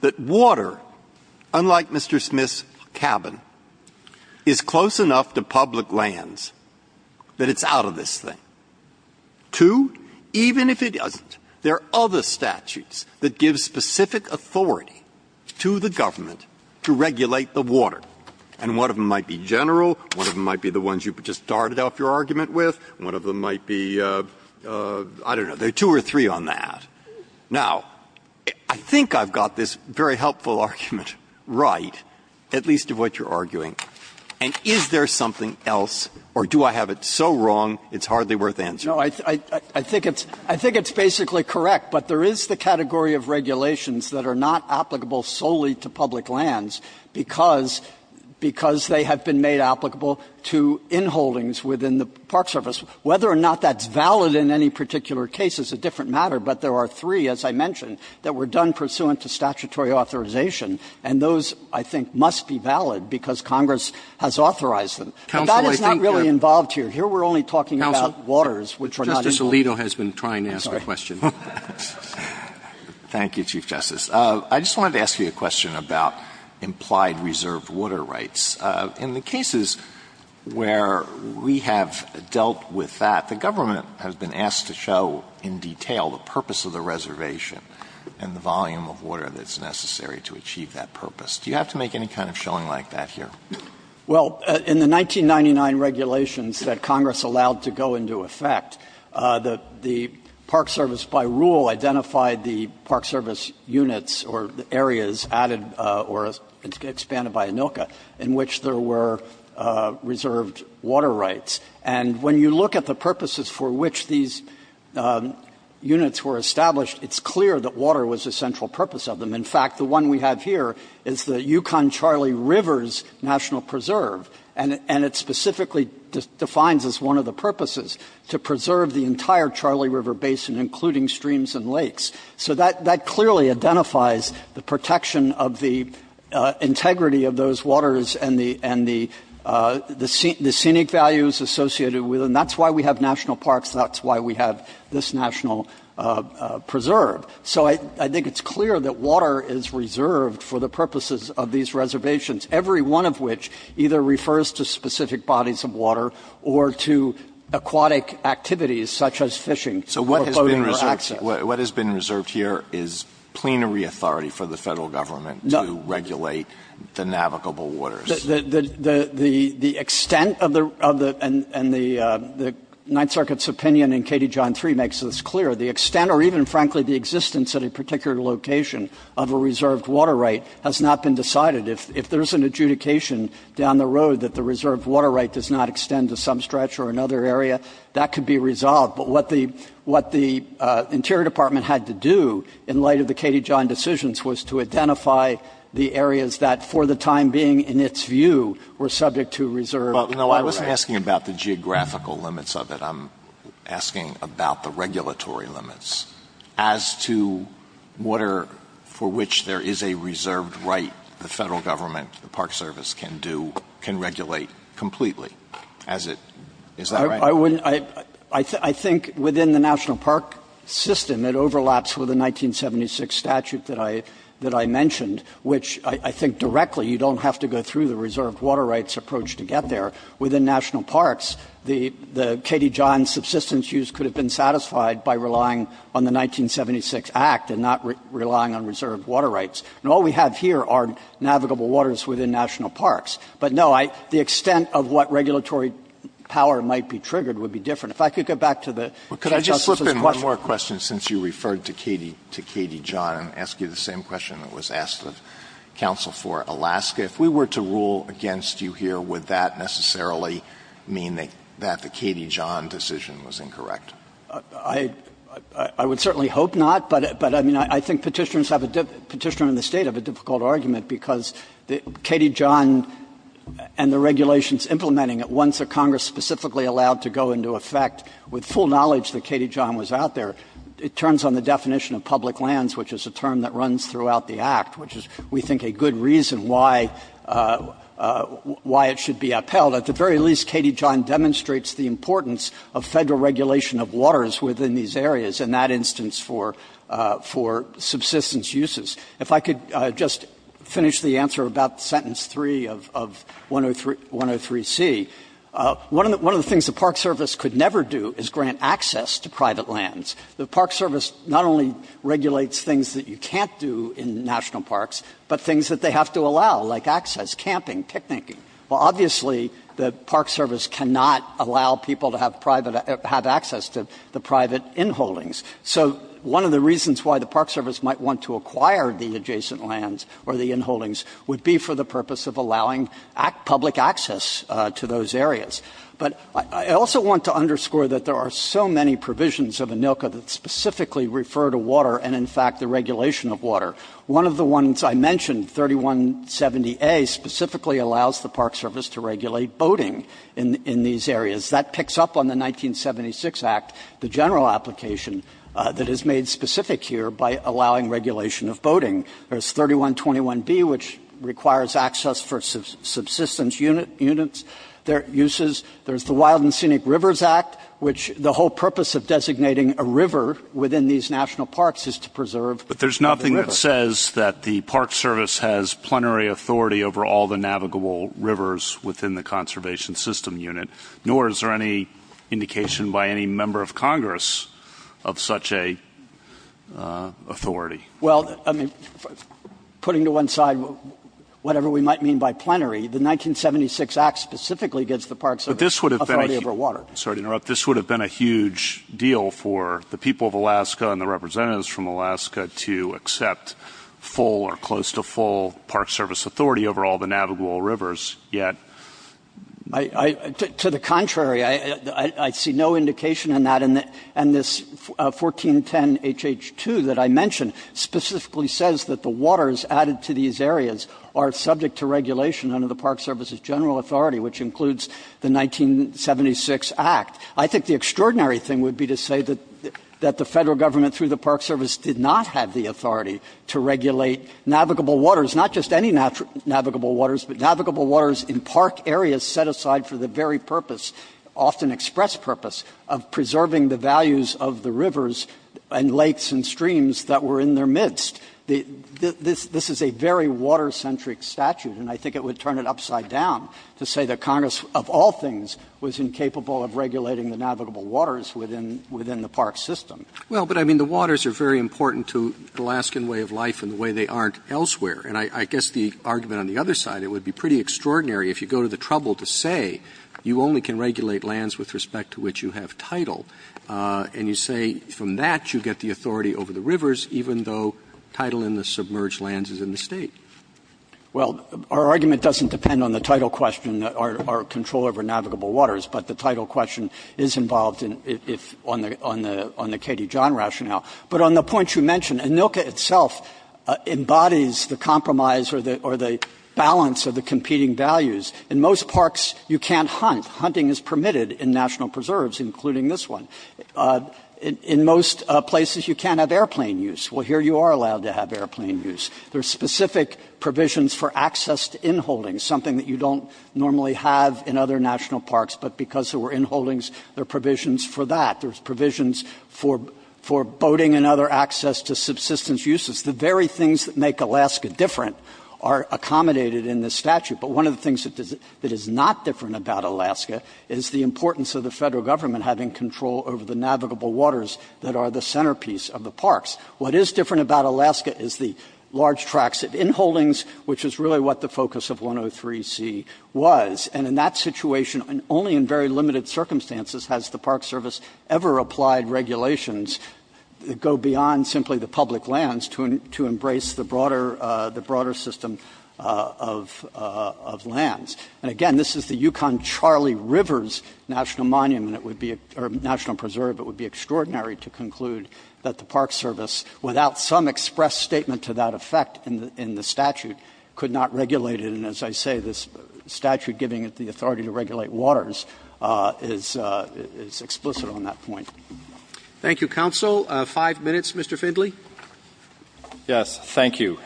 that water, unlike Mr. Smith's cabin, is close enough to public lands that it's out of this thing. Two, even if it doesn't, there are other statutes that give specific authority to the government to regulate the water. And one of them might be general, one of them might be the ones you just started off your argument with, one of them might be, I don't know, there are two or three on that. Now, I think I've got this very helpful argument right, at least of what you're arguing. And is there something else, or do I have it so wrong it's hardly worth answering? Kneedlerer No. I think it's basically correct, but there is the category of regulations that are not applicable solely to public lands because they have been made applicable to inholdings within the Park Service. Whether or not that's valid in any particular case is a different matter, but there are three, as I mentioned, that were done pursuant to statutory authorization, and those, I think, must be valid because Congress has authorized them. But that is not really involved here. Here we're only talking about waters which are not in the legal system. Roberts Thank you, Chief Justice. I just wanted to ask you a question about implied reserved water rights. In the cases where we have dealt with that, the government has been asked to show in detail the purpose of the reservation and the volume of water that's necessary to achieve that purpose. Do you have to make any kind of showing like that here? Kneedlerer Well, in the 1999 regulations that Congress allowed to go into effect, the Park Service, by rule, identified the Park Service units or areas added or expanded by ANILCA in which there were reserved water rights. And when you look at the purposes for which these units were established, it's clear that water was a central purpose of them. In fact, the one we have here is the Yukon-Charlie Rivers National Preserve, and it specifically defines as one of the purposes to preserve the entire Charlie River Basin, including streams and lakes. So that clearly identifies the protection of the integrity of those waters and the scenic values associated with them. That's why we have national parks. That's why we have this national preserve. So I think it's clear that water is reserved for the purposes of these reservations, every one of which either refers to specific bodies of water or to aquatic activities such as fishing or boating or access. Alito So what has been reserved here is plenary authority for the Federal government to regulate the navigable waters. Kneedlerer The extent of the Ninth Circuit's opinion in KD John 3 makes this clear. The extent or even, frankly, the existence at a particular location of a reserved water right has not been decided. If there's an adjudication down the road that the reserved water right does not extend to some stretch or another area, that could be resolved. But what the Interior Department had to do in light of the KD John decisions was to identify the areas that, for the time being, in its view, were subject to reserved water rights. Alito No, I wasn't asking about the geographical limits of it. I'm asking about the regulatory limits as to what are, for which there is a reserved right the Federal government, the Park Service can do, can regulate completely, as it, is that right? Kneedlerer I wouldn't, I think within the National Park system, it overlaps with the 1976 statute that I mentioned, which I think directly, you don't have to go through the reserved water rights approach to get there. Within National Parks, the KD John subsistence use could have been satisfied by relying on the 1976 Act and not relying on reserved water rights. And all we have here are navigable waters within National Parks. But, no, I, the extent of what regulatory power might be triggered would be different. If I could go back to the Justice's question. Alito Could I just slip in one more question, since you referred to KD, to KD John, and ask you the same question that was asked of counsel for Alaska. If we were to rule against you here, would that necessarily mean that the KD John decision was incorrect? Kneedlerer I would certainly hope not, but, I mean, I think Petitioners have a, Petitioner and the State have a difficult argument, because the KD John and the regulations implementing it, once the Congress specifically allowed to go into effect with full knowledge that KD John was out there, it turns on the definition of public lands, which is a term that runs throughout the Act, which is, we think, a good reason why, why it should be upheld. At the very least, KD John demonstrates the importance of Federal regulation of waters within these areas, in that instance for, for subsistence uses. If I could just finish the answer about sentence 3 of 103C. One of the things the Park Service could never do is grant access to private lands. The Park Service not only regulates things that you can't do in National Parks, but things that they have to allow, like access, camping, picnicking. Well, obviously, the Park Service cannot allow people to have private, have access to the private inholdings. So one of the reasons why the Park Service might want to acquire the adjacent lands or the inholdings would be for the purpose of allowing public access to those areas. But I also want to underscore that there are so many provisions of ANILCA that specifically refer to water and, in fact, the regulation of water. One of the ones I mentioned, 3170A, specifically allows the Park Service to regulate boating in, in these areas. That picks up on the 1976 Act, the general application that is made specific here by allowing regulation of boating. There's 3121B, which requires access for subsistence units, their uses. There's the Wild and Scenic Rivers Act, which the whole purpose of designating a river within these National Parks is to preserve the river. But this says that the Park Service has plenary authority over all the navigable rivers within the Conservation System Unit, nor is there any indication by any member of Congress of such a authority. Well, I mean, putting to one side whatever we might mean by plenary, the 1976 Act specifically gives the Park Service authority over water. But this would have been a, sorry to interrupt, this would have been a huge deal for the people of Alaska and the representatives from Alaska to accept full or close to full Park Service authority over all the navigable rivers, yet. To the contrary, I see no indication in that, and this 1410HH2 that I mentioned specifically says that the waters added to these areas are subject to regulation under the Park Service's general authority, which includes the 1976 Act. I think the extraordinary thing would be to say that the Federal Government through the Park Service did not have the authority to regulate navigable waters, not just any navigable waters, but navigable waters in park areas set aside for the very purpose, often express purpose, of preserving the values of the rivers and lakes and streams that were in their midst. This is a very water-centric statute, and I think it would turn it upside down to say that Congress, of all things, was incapable of regulating the navigable waters within the park system. Roberts' Well, but I mean, the waters are very important to the Alaskan way of life and the way they aren't elsewhere. And I guess the argument on the other side, it would be pretty extraordinary if you go to the trouble to say you only can regulate lands with respect to which you have title, and you say from that you get the authority over the rivers, even though title in the submerged lands is in the State. Well, our argument doesn't depend on the title question or control over navigable waters, but the title question is involved on the Katie John rationale. But on the point you mentioned, ANILCA itself embodies the compromise or the balance of the competing values. In most parks, you can't hunt. Hunting is permitted in national preserves, including this one. In most places, you can't have airplane use. Well, here you are allowed to have airplane use. There are specific provisions for access to in-holdings, something that you don't normally have in other national parks, but because there were in-holdings, there are provisions for that. There's provisions for boating and other access to subsistence uses. The very things that make Alaska different are accommodated in this statute. But one of the things that is not different about Alaska is the importance of the Federal Government having control over the navigable waters that are the centerpiece of the parks. What is different about Alaska is the large tracts of in-holdings, which is really what the focus of 103C was. And in that situation, only in very limited circumstances has the Park Service ever applied regulations that go beyond simply the public lands to embrace the broader system of lands. And again, this is the Yukon-Charlie Rivers National Preserve. It would be extraordinary to conclude that the Park Service, without some express statement to that effect in the statute, could not regulate it. And as I say, this statute giving it the authority to regulate waters is explicit on that point. Roberts. Thank you, counsel. Five minutes, Mr. Findley. Yes, thank you.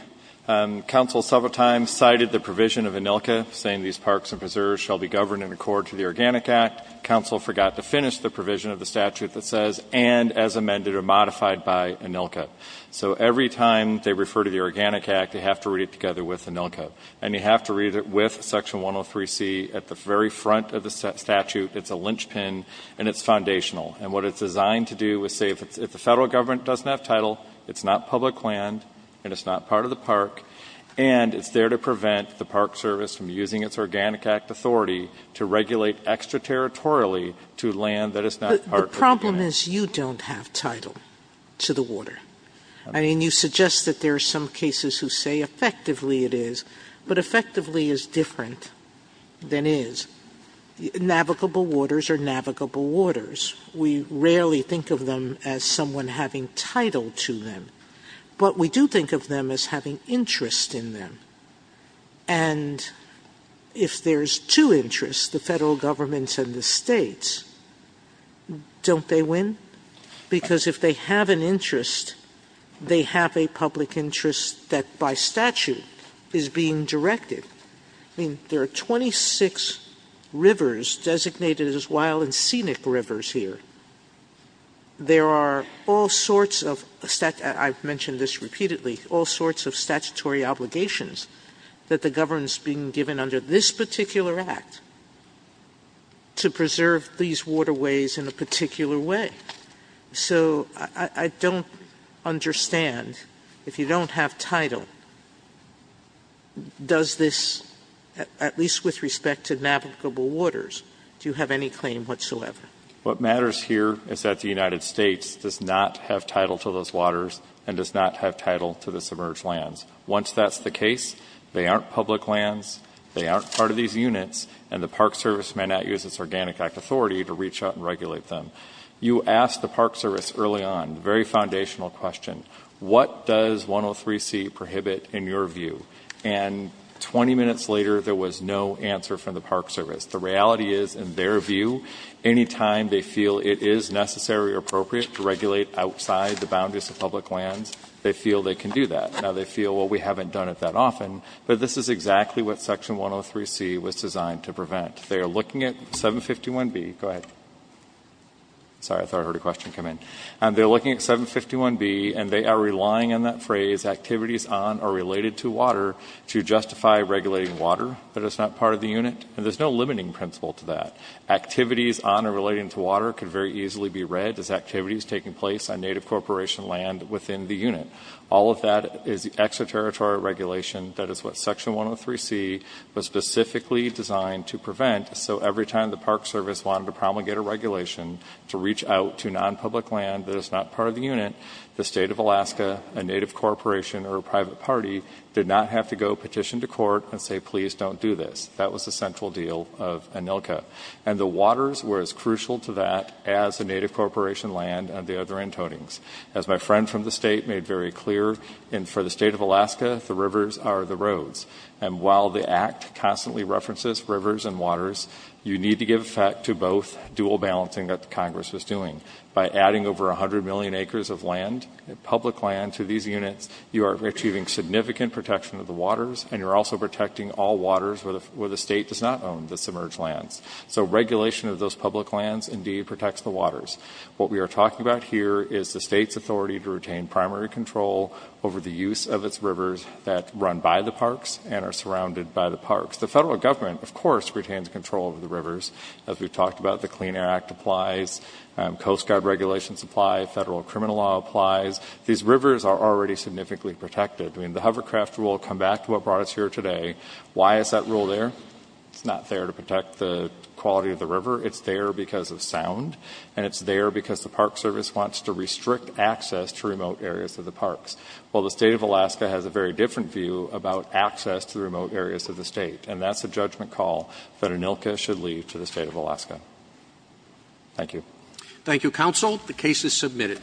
Counsel several times cited the provision of ANILCA saying these parks and preserves shall be governed in accord to the Organic Act. Counsel forgot to finish the provision of the statute that says, and as amended or modified by ANILCA. So every time they refer to the Organic Act, they have to read it together with ANILCA. And you have to read it with Section 103C at the very front of the statute. It's a linchpin, and it's foundational. And what it's designed to do is say, if the federal government doesn't have title, it's not public land, and it's not part of the park, and it's there to prevent the land that it's not part of the park. But the problem is you don't have title to the water. I mean, you suggest that there are some cases who say effectively it is, but effectively is different than is. Navigable waters are navigable waters. We rarely think of them as someone having title to them. But we do think of them as having interest in them. And if there's two interests, the federal government and the states, don't they win? Because if they have an interest, they have a public interest that by statute is being directed. I mean, there are 26 rivers designated as wild and scenic rivers here. There are all sorts of, I've mentioned this repeatedly, all sorts of statutory obligations that the government is being given under this particular act to preserve these waterways in a particular way. So I don't understand. If you don't have title, does this, at least with respect to navigable waters, do you have any claim whatsoever? What matters here is that the United States does not have title to those waters and does not have title to the submerged lands. Once that's the case, they aren't public lands, they aren't part of these units, and the Park Service may not use its Organic Act authority to reach out and regulate them. You asked the Park Service early on, a very foundational question, what does 103c prohibit in your view? And 20 minutes later, there was no answer from the Park Service. The reality is, in their view, any time they feel it is necessary or appropriate to regulate outside the boundaries of public lands, they feel they can do that. Now they feel, well, we haven't done it that often, but this is exactly what section 103c was designed to prevent. They are looking at 751b, go ahead, sorry, I thought I heard a question come in, and they're looking at 751b and they are relying on that phrase, activities on or related to water, to justify regulating water that is not part of the unit, and there's no limiting principle to that. Activities on or related to water could very easily be read as activities taking place on native corporation land within the unit. All of that is extraterritorial regulation, that is what section 103c was specifically designed to prevent, so every time the Park Service wanted to promulgate a regulation to reach out to non-public land that is not part of the unit, the state of Alaska, a native corporation or a private party did not have to go petition to court and say, please don't do this. That was the central deal of ANILCA. And the waters were as crucial to that as the native corporation land and the other very clear, and for the state of Alaska, the rivers are the roads, and while the act constantly references rivers and waters, you need to give effect to both dual balancing that Congress was doing. By adding over 100 million acres of land, public land to these units, you are achieving significant protection of the waters and you're also protecting all waters where the state does not own the submerged lands. So regulation of those public lands indeed protects the waters. What we are talking about here is the state's authority to retain primary control over the use of its rivers that run by the parks and are surrounded by the parks. The federal government, of course, retains control of the rivers. As we've talked about, the Clean Air Act applies, Coast Guard regulations apply, federal criminal law applies. These rivers are already significantly protected. The hovercraft rule, come back to what brought us here today, why is that rule there? It's not there to protect the quality of the river. It's there because of sound, and it's there because the Park Service wants to restrict access to remote areas of the parks, while the state of Alaska has a very different view about access to the remote areas of the state, and that's a judgment call that ANILCA should leave to the state of Alaska. Thank you. Thank you, counsel. The case is submitted.